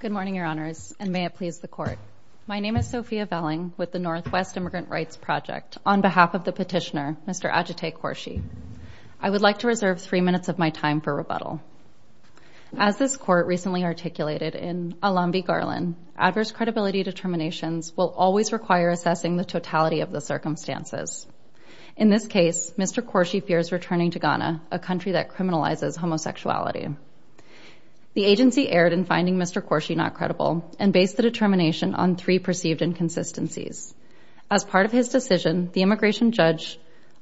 Good morning, Your Honors, and may it please the Court. My name is Sophia Velling with the Northwest Immigrant Rights Project. On behalf of the petitioner, Mr. Ajitay Khorshi, I would like to reserve three minutes of my time for rebuttal. As this Court recently articulated in Alambi v. Garland, adverse credibility determinations will always require assessing the totality of the circumstances. In this case, Mr. Khorshi fears returning to Ghana, a country that criminalizes homosexuality. The agency erred in finding Mr. Khorshi not credible and based the determination on three perceived inconsistencies. As part of his decision, the immigration judge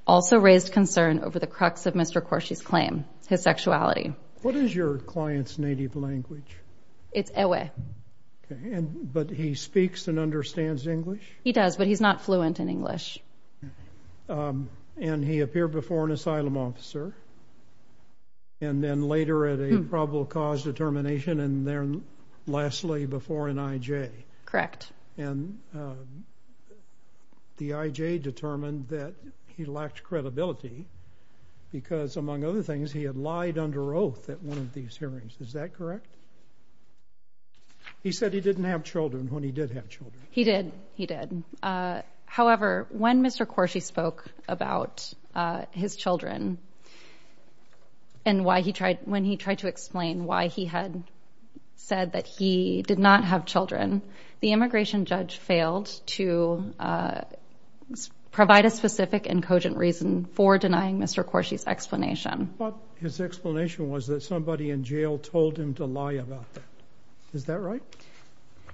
also raised concern over the crux of Mr. Khorshi's claim, his sexuality. What is your client's native language? It's Ewe. But he speaks and understands English? He does, but he's not fluent in English. And he appeared before an asylum officer and then later at a probable cause determination and then lastly before an I.J.? Correct. And the I.J. determined that he lacked credibility because, among other things, he had lied under oath at one of these hearings, is that correct? He said he didn't have children when he did have children. He did. He did. However, when Mr. Khorshi spoke about his children and when he tried to explain why he had said that he did not have children, the immigration judge failed to provide a specific and cogent reason for denying Mr. Khorshi's explanation. His explanation was that somebody in jail told him to lie about that. Is that right?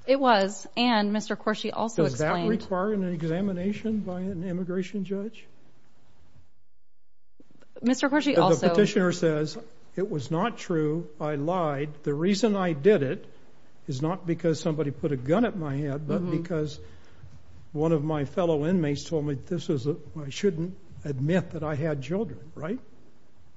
It was. And Mr. Khorshi also explained... Does that require an examination by an immigration judge? Mr. Khorshi also... The petitioner says, it was not true, I lied, the reason I did it is not because somebody put a gun at my head, but because one of my fellow inmates told me this is, I shouldn't admit that I had children, right?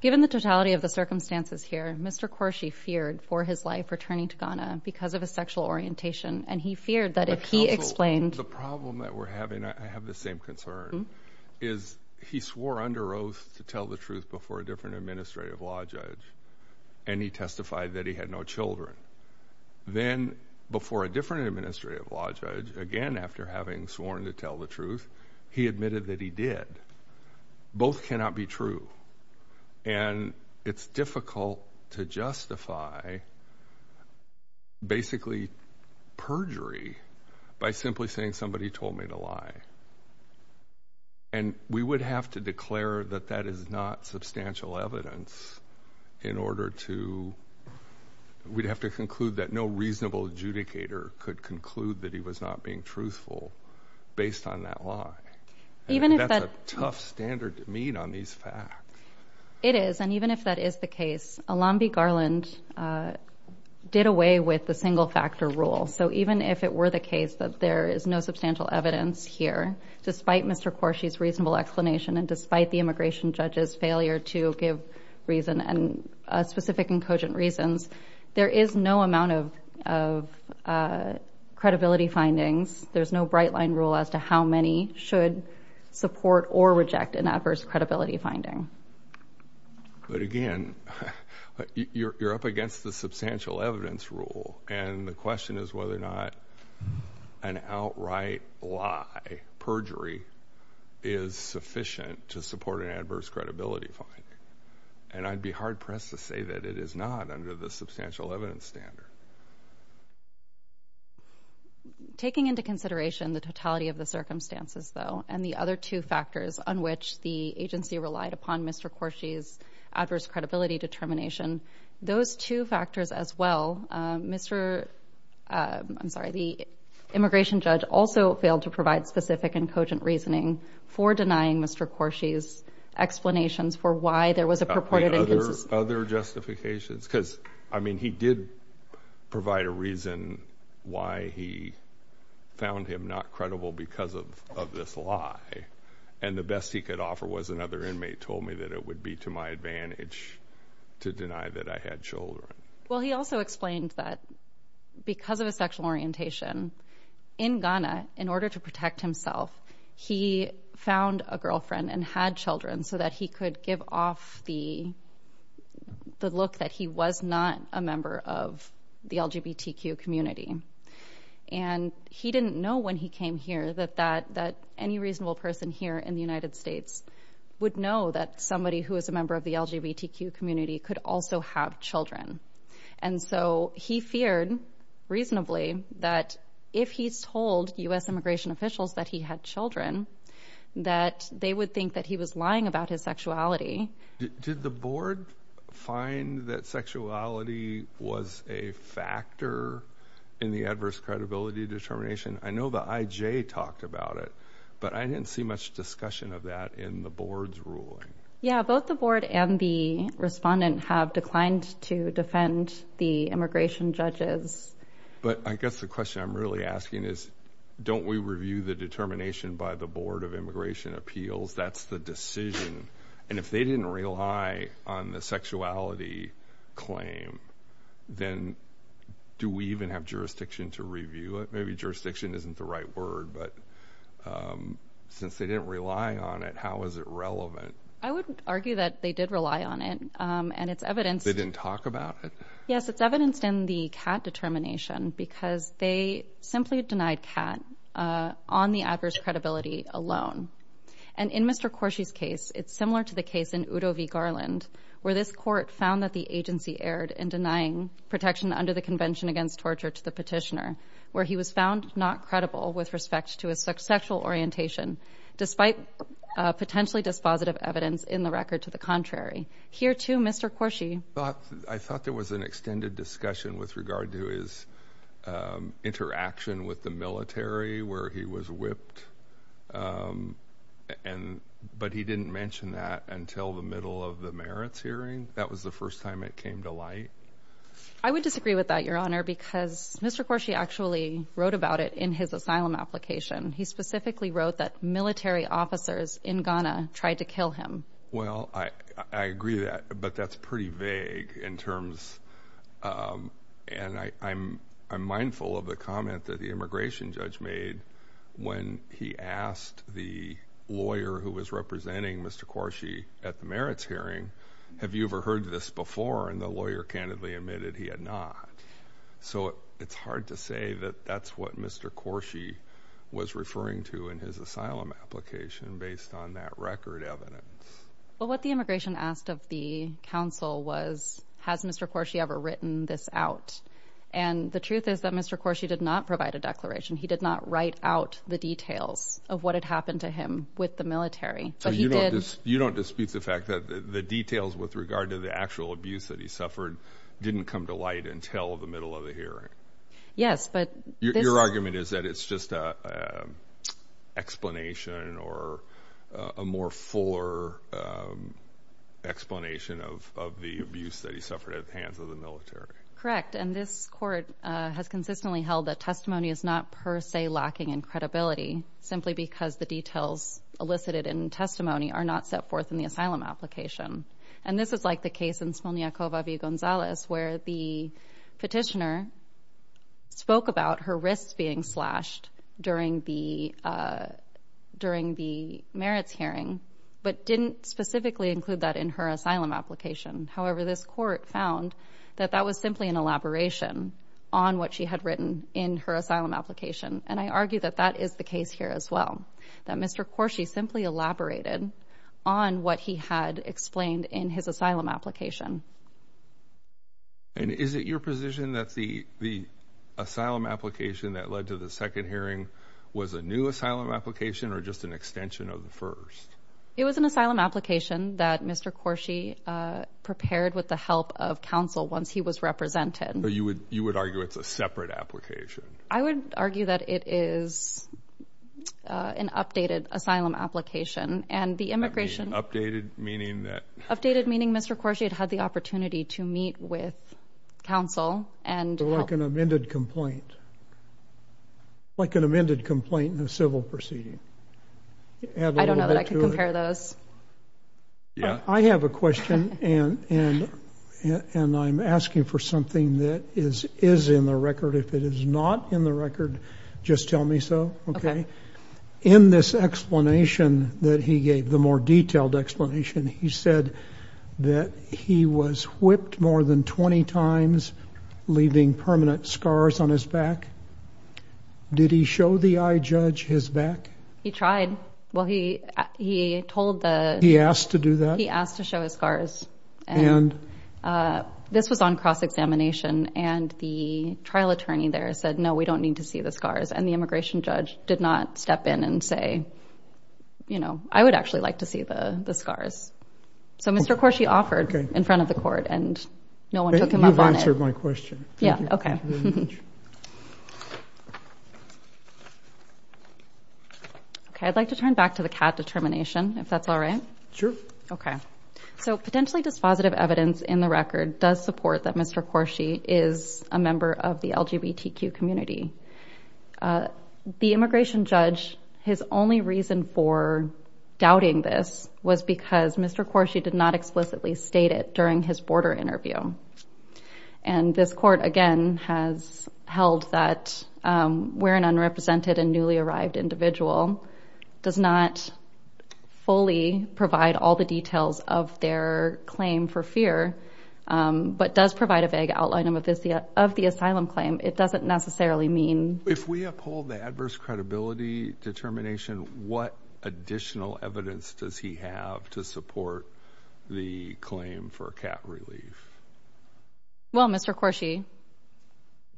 Given the totality of the circumstances here, Mr. Khorshi feared for his life returning to Ghana because of his sexual orientation, and he feared that if he explained... The problem that we're having, I have the same concern, is he swore under oath to tell the truth before a different administrative law judge, and he testified that he had no children. Then before a different administrative law judge, again after having sworn to tell the truth, he admitted that he did. Both cannot be true, and it's difficult to justify basically perjury by simply saying somebody told me to lie. And we would have to declare that that is not substantial evidence in order to... We'd have to conclude that no reasonable adjudicator could conclude that he was not being truthful based on that lie. That's a tough standard to meet on these facts. It is, and even if that is the case, Alambi Garland did away with the single factor rule. So even if it were the case that there is no substantial evidence here, despite Mr. Khorshi's reasonable explanation and despite the immigration judge's failure to give reason and specific and cogent reasons, there is no amount of credibility findings. There's no bright line rule as to how many should support or reject an adverse credibility finding. But again, you're up against the substantial evidence rule, and the question is whether or not an outright lie, perjury, is sufficient to support an adverse credibility finding. And I'd be hard-pressed to say that it is not under the substantial evidence standard. Taking into consideration the totality of the circumstances, though, and the other two factors on which the agency relied upon Mr. Khorshi's adverse credibility determination, those two factors as well, the immigration judge also failed to provide specific and cogent reasoning for denying Mr. Khorshi's explanations for why there was a purported inconsistency... Other justifications? Because, I mean, he did provide a reason why he found him not credible because of this lie, and the best he could offer was another inmate told me that it would be to my advantage to deny that I had children. Well, he also explained that because of his sexual orientation, in Ghana, in order to the look that he was not a member of the LGBTQ community, and he didn't know when he came here that any reasonable person here in the United States would know that somebody who is a member of the LGBTQ community could also have children. And so he feared, reasonably, that if he told U.S. immigration officials that he had children, that they would think that he was lying about his sexuality. Did the board find that sexuality was a factor in the adverse credibility determination? I know the IJ talked about it, but I didn't see much discussion of that in the board's ruling. Yeah, both the board and the respondent have declined to defend the immigration judges. But I guess the question I'm really asking is, don't we review the determination by the Board of Immigration Appeals? That's the decision. And if they didn't rely on the sexuality claim, then do we even have jurisdiction to review it? Maybe jurisdiction isn't the right word, but since they didn't rely on it, how is it relevant? I would argue that they did rely on it. And it's evidenced. They didn't talk about it? Yes, it's evidenced in the CAT determination, because they simply denied CAT on the adverse credibility alone. And in Mr. Corsi's case, it's similar to the case in Udo v. Garland, where this court found that the agency erred in denying protection under the Convention Against Torture to the petitioner, where he was found not credible with respect to his sexual orientation, despite potentially dispositive evidence in the record to the contrary. Here too, Mr. Corsi— I thought there was an extended discussion with regard to his interaction with the military, where he was whipped, but he didn't mention that until the middle of the merits hearing. That was the first time it came to light. I would disagree with that, Your Honor, because Mr. Corsi actually wrote about it in his asylum application. He specifically wrote that military officers in Ghana tried to kill him. Well, I agree with that, but that's pretty vague in terms—and I'm mindful of the comment that the immigration judge made when he asked the lawyer who was representing Mr. Corsi at the merits hearing, have you ever heard this before? And the lawyer candidly admitted he had not. So it's hard to say that that's what Mr. Corsi was referring to in his asylum application based on that record evidence. Well, what the immigration asked of the counsel was, has Mr. Corsi ever written this out? And the truth is that Mr. Corsi did not provide a declaration. He did not write out the details of what had happened to him with the military. But he did— You don't dispute the fact that the details with regard to the actual abuse that he suffered didn't come to light until the middle of the hearing? Yes, but— Your argument is that it's just an explanation or a more fuller explanation of the abuse that he suffered at the hands of the military? Correct. And this court has consistently held that testimony is not per se lacking in credibility simply because the details elicited in testimony are not set forth in the asylum application. And this is like the case in Smolniakova v. Gonzalez where the petitioner spoke about her wrists being slashed during the merits hearing, but didn't specifically include that in her asylum application. However, this court found that that was simply an elaboration on what she had written in her asylum application. And I argue that that is the case here as well, that Mr. Corsi simply elaborated on what he had explained in his asylum application. And is it your position that the asylum application that led to the second hearing was a new asylum application or just an extension of the first? It was an asylum application that Mr. Corsi prepared with the help of counsel once he was represented. But you would argue it's a separate application? I would argue that it is an updated asylum application. And the immigration— Updated meaning that— Updated meaning Mr. Corsi had had the opportunity to meet with counsel and help— Like an amended complaint. Like an amended complaint in a civil proceeding. Add a little bit to it. I don't know that I can compare those. I have a question, and I'm asking for something that is in the record. If it is not in the record, just tell me so. Okay. In this explanation that he gave, the more detailed explanation, he said that he was whipped more than 20 times, leaving permanent scars on his back. Did he show the eye judge his back? He tried. Well, he told the— He asked to do that? He asked to show his scars. And? This was on cross-examination, and the trial attorney there said, no, we don't need to see the scars. And the immigration judge did not step in and say, you know, I would actually like to see the scars. So Mr. Corsi offered in front of the court, and no one took him up on it. You've answered my question. Yeah. Okay. Okay. I'd like to turn back to the CAD determination, if that's all right. Sure. Okay. So potentially dispositive evidence in the record does support that Mr. Corsi is a member of the LGBTQ community. The immigration judge, his only reason for doubting this was because Mr. Corsi did not explicitly state it during his border interview. And this court, again, has held that we're an unrepresented and newly arrived individual, does not fully provide all the details of their claim for fear, but does provide a vague outline of the asylum claim. It doesn't necessarily mean— If we uphold the adverse credibility determination, what additional evidence does he have to support the claim for a cap relief? Well, Mr. Corsi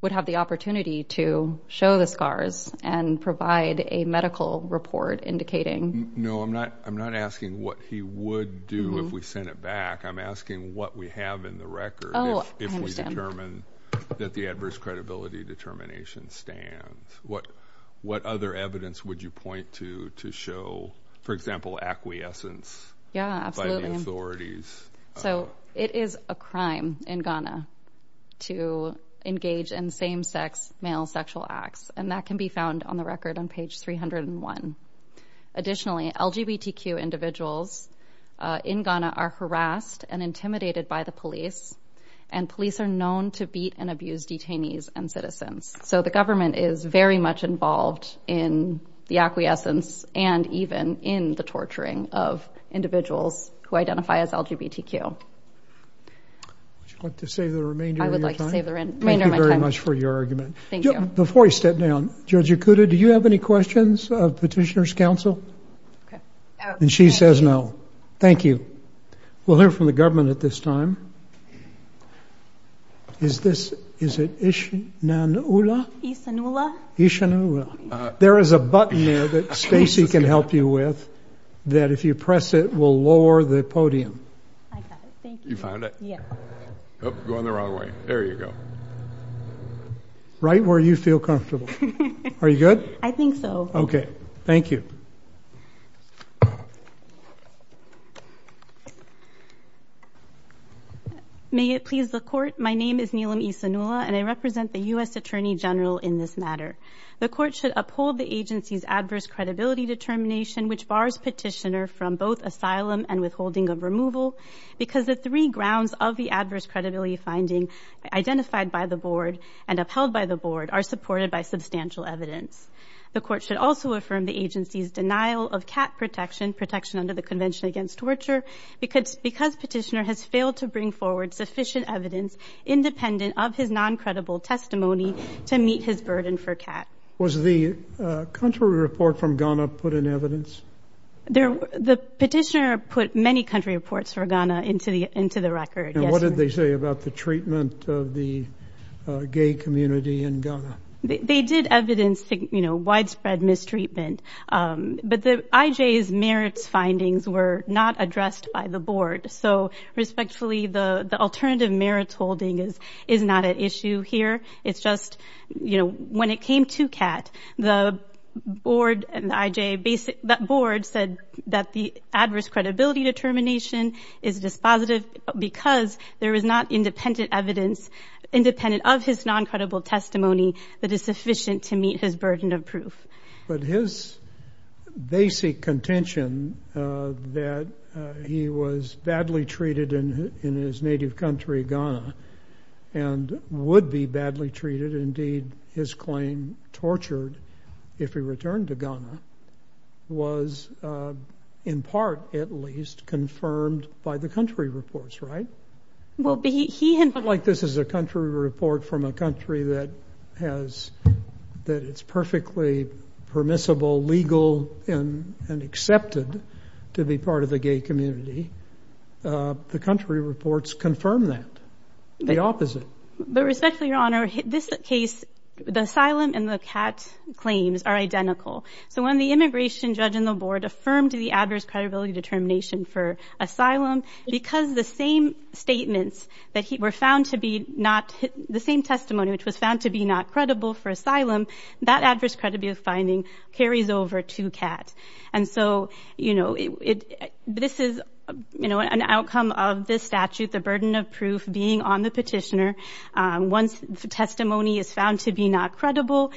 would have the opportunity to show the scars and provide a medical report indicating— No, I'm not asking what he would do if we sent it back. I'm asking what we have in the record if we determine that the adverse credibility determination stands. What other evidence would you point to to show, for example, acquiescence by the authorities? So it is a crime in Ghana to engage in same-sex male sexual acts, and that can be found on the record on page 301. Additionally, LGBTQ individuals in Ghana are harassed and intimidated by the police, and police are known to beat and abuse detainees and citizens. So the government is very much involved in the acquiescence and even in the torturing of individuals who identify as LGBTQ. Would you like to save the remainder of your time? I would like to save the remainder of my time. Thank you very much for your argument. Thank you. Before we step down, Judge Ikuda, do you have any questions of Petitioner's Council? Okay. And she says no. Thank you. We'll hear from the government at this time. Is this—is it Ishanula? Ishanula. Ishanula. There is a button there that Stacy can help you with that, if you press it, will lower the podium. I got it. Thank you. You found it? Yeah. Going the wrong way. There you go. Right where you feel comfortable. Are you good? I think so. Okay. Thank you. May it please the Court, my name is Neelam Ishanula, and I represent the U.S. Attorney General in this matter. The Court should uphold the agency's adverse credibility determination, which bars Petitioner from both asylum and withholding of removal, because the three grounds of the adverse credibility finding identified by the Board and upheld by the Board are supported by substantial evidence. The Court should also affirm the agency's denial of CAT protection, protection under the Convention Against Torture, because Petitioner has failed to bring forward sufficient evidence independent of his non-credible testimony to meet his burden for CAT. Was the country report from Ghana put in evidence? The Petitioner put many country reports for Ghana into the record, yes. And what did they say about the treatment of the gay community in Ghana? They did evidence, you know, widespread mistreatment, but the IJ's merits findings were not addressed by the Board. So, respectfully, the alternative merits holding is not an issue here. It's just, you know, when it came to CAT, the Board and the IJ, that Board said that the adverse credibility determination is dispositive because there is not independent evidence independent of his non-credible testimony that is sufficient to meet his burden of proof. But his basic contention that he was badly treated in his native country, Ghana, and would be badly treated, indeed, his claim tortured if he returned to Ghana, was in part, at least, confirmed by the country reports, right? Well, but he had— It's not like this is a country report from a country that has—that it's perfectly permissible, legal, and accepted to be part of the gay community. The country reports confirm that. The opposite. But respectfully, Your Honor, this case, the asylum and the CAT claims are identical. So when the immigration judge and the Board affirmed the adverse credibility determination for asylum, because the same statements that he—were found to be not—the same testimony which was found to be not credible for asylum, that adverse credibility finding carries over to CAT. And so, you know, this is, you know, an outcome of this statute, the burden of proof being on the petitioner. Once the testimony is found to be not credible,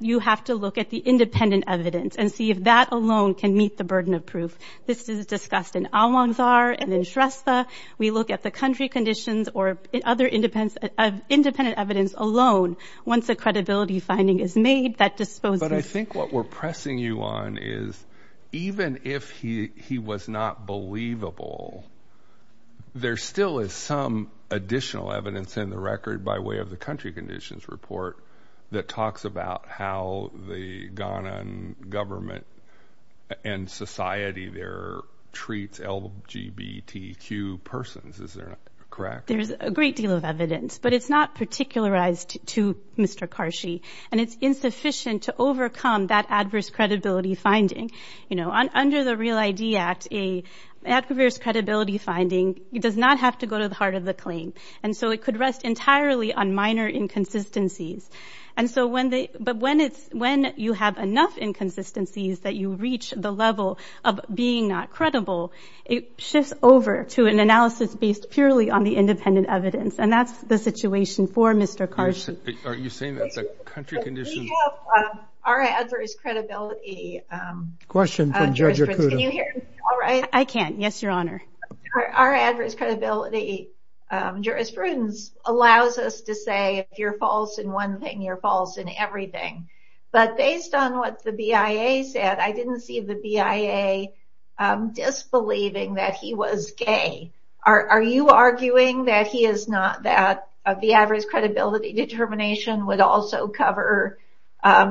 you have to look at the independent evidence and see if that alone can meet the burden of proof. This is discussed in Almanzar and in Shrestha. We look at the country conditions or other independent evidence alone. Once a credibility finding is made, that disposes— But I think what we're pressing you on is, even if he was not believable, there still is some additional evidence in the record by way of the country conditions report that talks about how the Ghana government and society there treats LGBTQ persons. Is that correct? There's a great deal of evidence, but it's not particularized to Mr. Karshi. And it's insufficient to overcome that adverse credibility finding. You know, under the REAL ID Act, an adverse credibility finding does not have to go to the heart of the claim. And so it could rest entirely on minor inconsistencies. And so when you have enough inconsistencies that you reach the level of being not credible, it shifts over to an analysis based purely on the independent evidence. And that's the situation for Mr. Karshi. Are you saying that's a country condition? We have our adverse credibility jurisprudence— Question from Judge Okuda. Can you hear me all right? I can. Yes, Your Honor. Our adverse credibility jurisprudence allows us to say if you're false in one thing, you're false in everything. But based on what the BIA said, I didn't see the BIA disbelieving that he was gay. Are you arguing that he is not—that the average credibility determination would also cover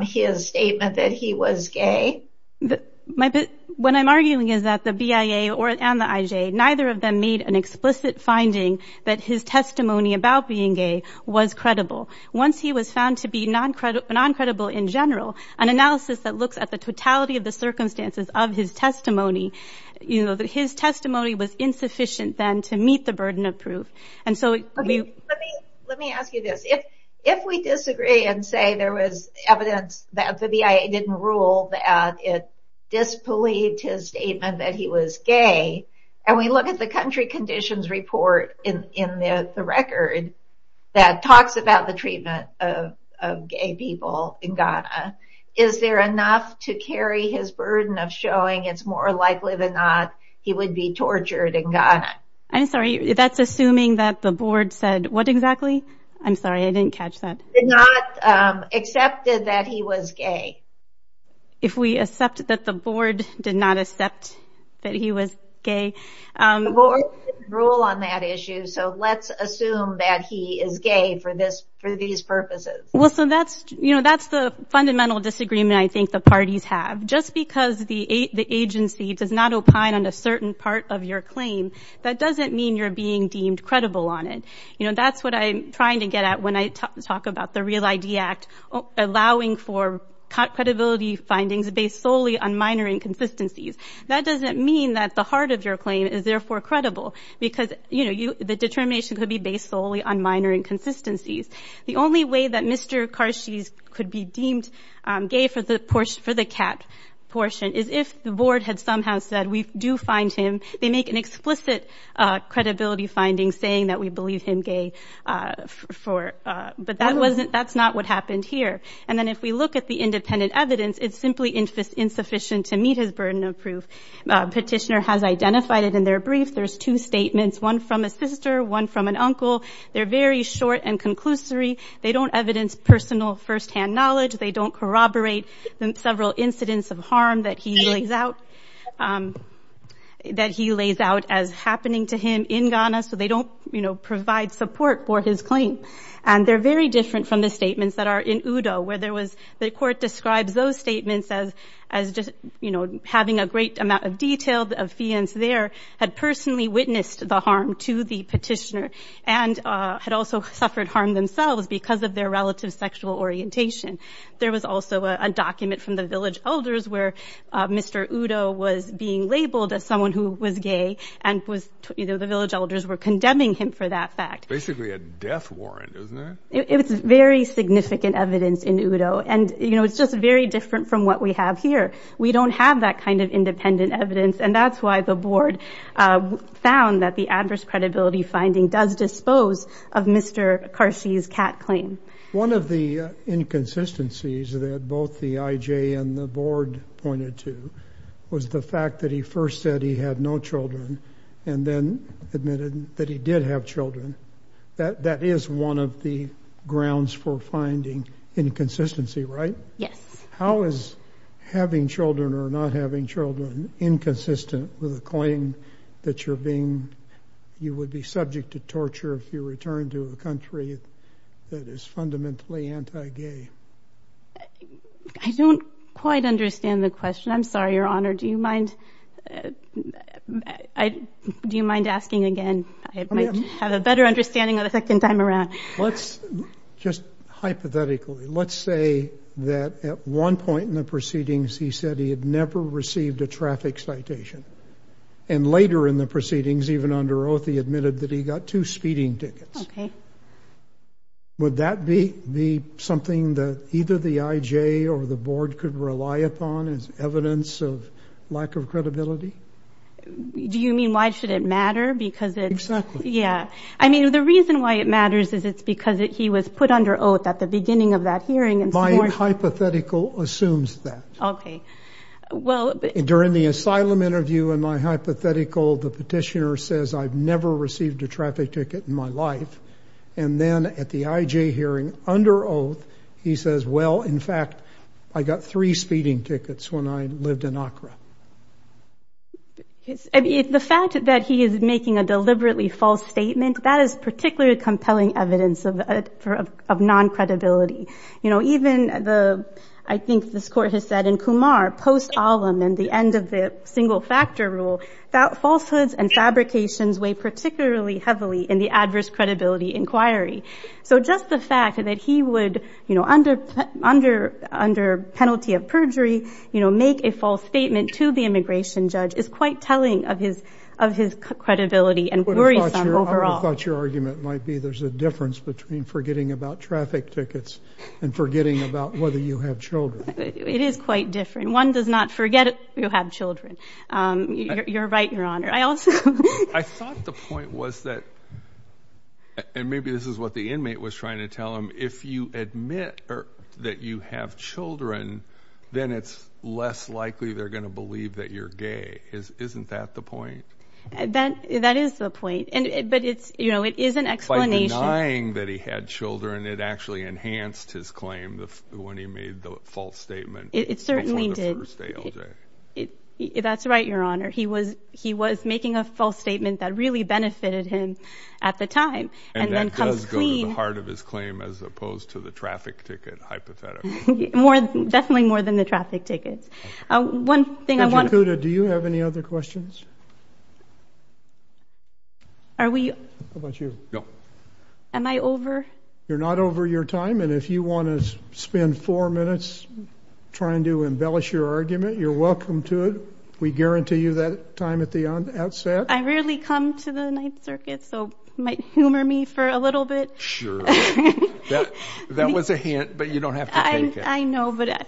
his statement that he was gay? My—when I'm arguing is that the BIA and the IJ, neither of them made an explicit finding that his testimony about being gay was credible. Once he was found to be non-credible in general, an analysis that looks at the totality of the circumstances of his testimony, you know, that his testimony was insufficient then to meet the burden of proof. And so— Let me ask you this. If we disagree and say there was evidence that the BIA didn't rule that it disbelieved his statement that he was gay, and we look at the country conditions report in the record that talks about the treatment of gay people in Ghana, is there enough to carry his burden of showing it's more likely than not he would be tortured in Ghana? I'm sorry. That's assuming that the board said what exactly? I'm sorry. I didn't catch that. Did not accepted that he was gay. If we accept that the board did not accept that he was gay. The board didn't rule on that issue, so let's assume that he is gay for this—for these purposes. Well, so that's, you know, that's the fundamental disagreement I think the parties have. Just because the agency does not opine on a certain part of your claim, that doesn't mean you're being deemed credible on it. You know, that's what I'm trying to get at when I talk about the REAL-ID Act, allowing for credibility findings based solely on minor inconsistencies. That doesn't mean that the heart of your claim is therefore credible, because, you know, the determination could be based solely on minor inconsistencies. The only way that Mr. Karshis could be deemed gay for the portion—for the cat portion is if the board had somehow said, we do find him—they make an explicit credibility finding saying that we believe him gay for—but that wasn't—that's not what happened here. And then if we look at the independent evidence, it's simply insufficient to meet his burden of proof. Petitioner has identified it in their brief. There's two statements, one from a sister, one from an uncle. They're very short and conclusory. They don't evidence personal first-hand knowledge. They don't corroborate several incidents of harm that he lays out—that he lays out as happening to him in Ghana, so they don't, you know, provide support for his claim. And they're very different from the statements that are in Udo, where there was—the court describes those statements as—as just, you know, having a great amount of detail of fiance there had personally witnessed the harm to the petitioner and had also suffered harm themselves because of their relative sexual orientation. There was also a document from the village elders where Mr. Udo was being labeled as and was—the village elders were condemning him for that fact. Basically a death warrant, isn't it? It's very significant evidence in Udo. And, you know, it's just very different from what we have here. We don't have that kind of independent evidence, and that's why the board found that the adverse credibility finding does dispose of Mr. Karsi's cat claim. One of the inconsistencies that both the IJ and the board pointed to was the fact that he first said he had no children and then admitted that he did have children. That is one of the grounds for finding inconsistency, right? Yes. How is having children or not having children inconsistent with a claim that you're being—you would be subject to torture if you returned to a country that is fundamentally anti-gay? I don't quite understand the question. I'm sorry, Your Honor. Do you mind—do you mind asking again? I might have a better understanding of the second time around. Let's—just hypothetically, let's say that at one point in the proceedings, he said he had never received a traffic citation. And later in the proceedings, even under oath, he admitted that he got two speeding tickets. Okay. Would that be something that either the IJ or the board could rely upon as evidence of lack of credibility? Do you mean why should it matter? Because it's— Exactly. Yeah. I mean, the reason why it matters is it's because he was put under oath at the beginning of that hearing and— My hypothetical assumes that. Okay. Well— During the asylum interview in my hypothetical, the petitioner says, I've never received a traffic ticket in my life. And then at the IJ hearing, under oath, he says, well, in fact, I got three speeding tickets when I lived in Accra. Okay. The fact that he is making a deliberately false statement, that is particularly compelling evidence of non-credibility. You know, even the—I think this court has said in Kumar, post-alum and the end of the single factor rule, that falsehoods and fabrications weigh particularly heavily in the adverse credibility inquiry. So just the fact that he would, you know, under penalty of perjury, you know, make a false statement to the immigration judge is quite telling of his credibility and worrisome overall. I would have thought your argument might be there's a difference between forgetting about traffic tickets and forgetting about whether you have children. It is quite different. One does not forget you have children. You're right, Your Honor. I also— I thought the point was that—and maybe this is what the inmate was trying to tell him— if you admit that you have children, then it's less likely they're going to believe that you're gay. Isn't that the point? That is the point. And—but it's, you know, it is an explanation— By denying that he had children, it actually enhanced his claim when he made the false statement. It certainly did. It's not a first-day LJ. That's right, Your Honor. He was—he was making a false statement that really benefited him at the time. And that does go to the heart of his claim as opposed to the traffic ticket hypothetical. Definitely more than the traffic tickets. One thing— Judge Acuda, do you have any other questions? Are we— How about you? No. Am I over? You're not over your time. And if you want to spend four minutes trying to embellish your argument, you're welcome to it. We guarantee you that time at the outset. I rarely come to the Ninth Circuit, so you might humor me for a little bit. Sure. That was a hint, but you don't have to take it. I know, but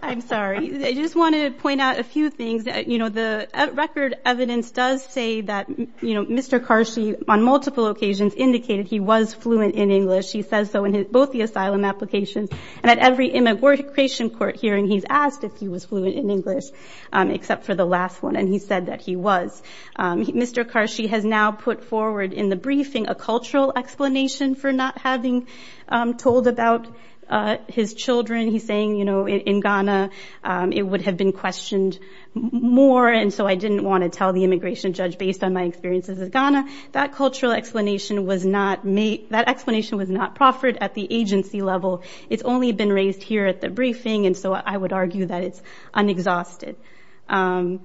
I'm sorry. I just wanted to point out a few things. You know, the record evidence does say that, you know, Mr. Karshi on multiple occasions indicated he was fluent in English. He says so in both the asylum applications and at every immigration court hearing, he's asked if he was fluent in English except for the last one, and he said that he was. Mr. Karshi has now put forward in the briefing a cultural explanation for not having told about his children. He's saying, you know, in Ghana, it would have been questioned more, and so I didn't want to tell the immigration judge based on my experiences with Ghana. That cultural explanation was not made— that explanation was not proffered at the agency level. It's only been raised here at the briefing, and so I would argue that it's unexhausted. And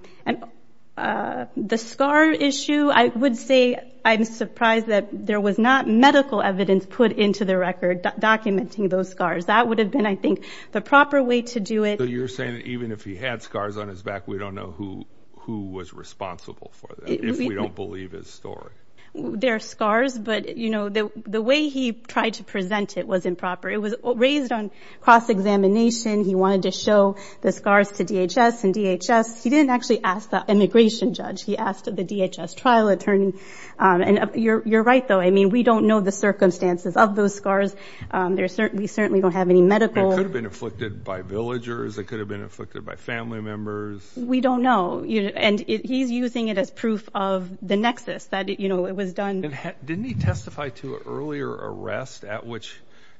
the scar issue, I would say I'm surprised that there was not medical evidence put into the record documenting those scars. That would have been, I think, the proper way to do it. You're saying that even if he had scars on his back, we don't know who was responsible for that if we don't believe his story? There are scars, but, you know, the way he tried to present it was improper. It was raised on cross-examination. He wanted to show the scars to DHS, and DHS— he didn't actually ask the immigration judge. He asked the DHS trial attorney, and you're right, though. I mean, we don't know the circumstances of those scars. We certainly don't have any medical— It could have been inflicted by villagers. It could have been inflicted by family members. We don't know, and he's using it as proof of the nexus that, you know, it was done— Didn't he testify to an earlier arrest at which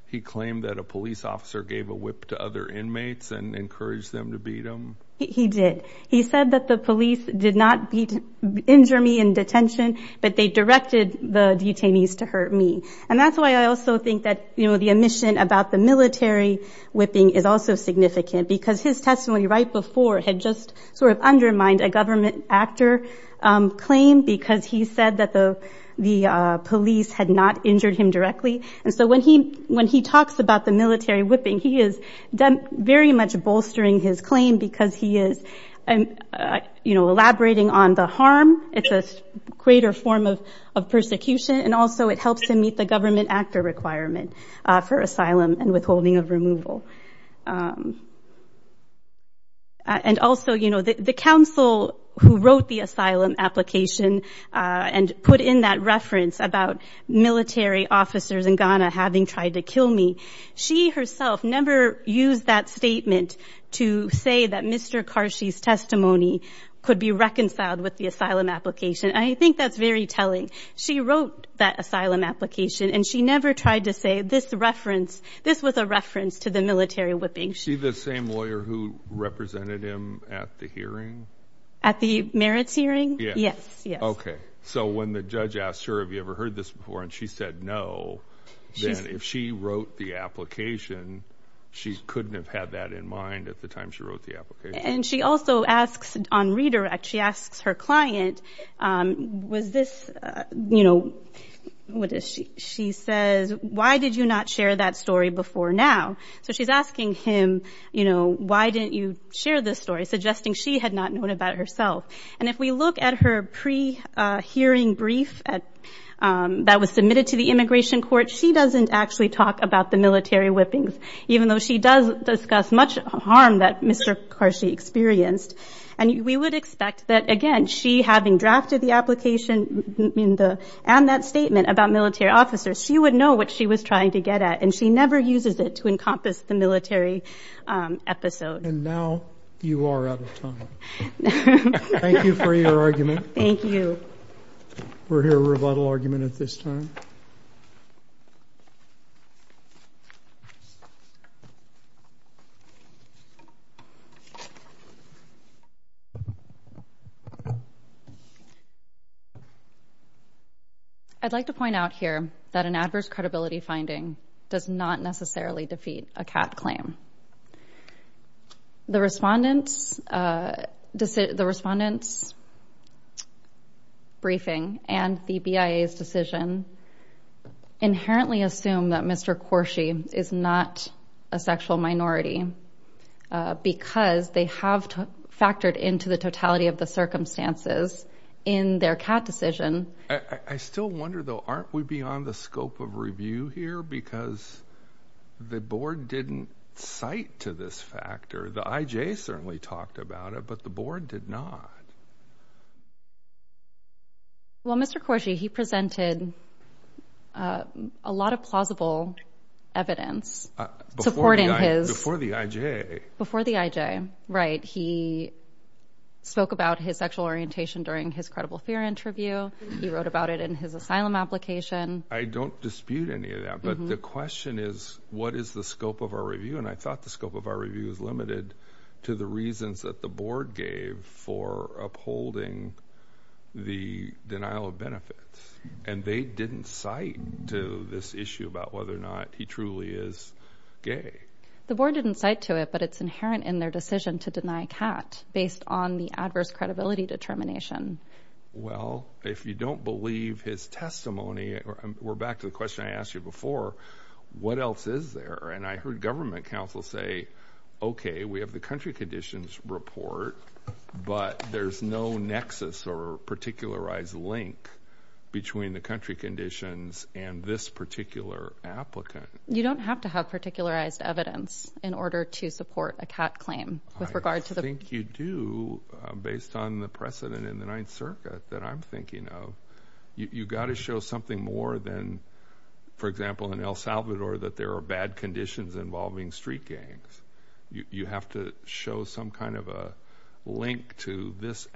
he claimed that a police officer gave a whip to other inmates and encouraged them to beat him? He did. He said that the police did not injure me in detention, but they directed the detainees to hurt me, and that's why I also think that, you know, the omission about the military whipping is also significant, because his testimony right before had just sort of undermined a government actor claim because he said that the police had not injured him directly, and so when he talks about the military whipping, he is very much bolstering his claim because he is, you know, elaborating on the harm. It's a greater form of persecution, and also it helps him meet the government actor requirement for asylum and withholding of removal. And also, you know, the counsel who wrote the asylum application and put in that reference about military officers in Ghana having tried to kill me, she herself never used that statement to say that Mr. Karshi's testimony could be reconciled with the asylum application. I think that's very telling. She wrote that asylum application, and she never tried to say this reference— this was a reference to the military whipping. She— The same lawyer who represented him at the hearing? At the merits hearing? Yes. Okay, so when the judge asked her, have you ever heard this before, and she said no, then if she wrote the application, she couldn't have had that in mind at the time she wrote the application? And she also asks, on redirect, she asks her client, was this, you know, what is she says, why did you not share that story before now? So she's asking him, you know, why didn't you share this story, suggesting she had not known about herself? And if we look at her pre-hearing brief that was submitted to the immigration court, she doesn't actually talk about the military whippings, even though she does discuss much harm that Mr. Karshi experienced. And we would expect that, again, she having drafted the application and that statement about military officers, she would know what she was trying to get at, and she never uses it to encompass the military episode. And now you are out of time. Thank you for your argument. Thank you. We'll hear a rebuttal argument at this time. I'd like to point out here that an adverse credibility finding does not necessarily defeat a CAT claim. The respondents' briefing and the BIA's decision inherently assume that Mr. Karshi is not a sexual minority because they have factored into the totality of the circumstances in their CAT decision. I still wonder though, aren't we beyond the scope of review here? Because the board didn't cite to this factor. The IJ certainly talked about it, but the board did not. Well, Mr. Karshi, he presented a lot of plausible evidence supporting his— Before the IJ. Before the IJ, right. He spoke about his sexual orientation during his credible fear interview. He wrote about it in his asylum application. I don't dispute any of that. But the question is, what is the scope of our review? And I thought the scope of our review is limited to the reasons that the board gave for upholding the denial of benefits. And they didn't cite to this issue about whether or not he truly is gay. The board didn't cite to it, but it's inherent in their decision to deny CAT based on the adverse credibility determination. Well, if you don't believe his testimony, we're back to the question I asked you before. What else is there? And I heard government counsel say, okay, we have the country conditions report, but there's no nexus or particularized link between the country conditions and this particular applicant. You don't have to have particularized evidence in order to support a CAT claim. I think you do, based on the precedent in the Ninth Circuit that I'm thinking of. You've got to show something more than, for example, in El Salvador, that there are bad conditions involving street gangs. You have to show some kind of a link to this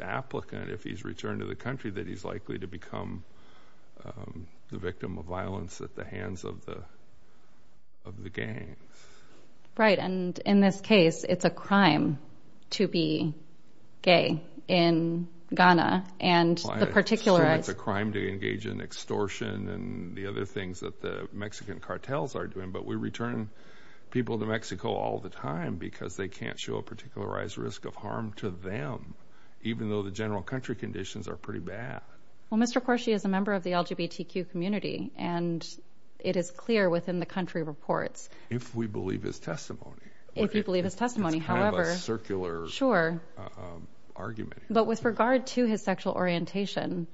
applicant, if he's returned to the country, that he's likely to become the victim of violence at the hands of the gangs. Right. And in this case, it's a crime to be gay in Ghana. And the particularized- It's a crime to engage in extortion and the other things that the Mexican cartels are doing. But we return people to Mexico all the time because they can't show a particularized risk of harm to them, even though the general country conditions are pretty bad. Well, Mr. Corsi is a member of the LGBTQ community, and it is clear within the country reports. If we believe his testimony. If you believe his testimony. It's kind of a circular argument. But with regard to his sexual orientation,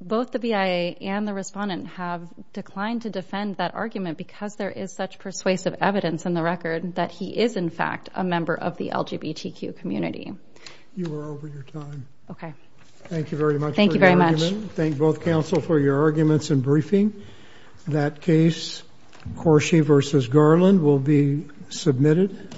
both the BIA and the respondent have declined to defend that argument because there is such persuasive evidence in the record that he is, in fact, a member of the LGBTQ community. You are over your time. Okay. Thank you very much. Thank you very much. Thank both counsel for your arguments and briefing. That case, Corsi versus Garland, will be submitted.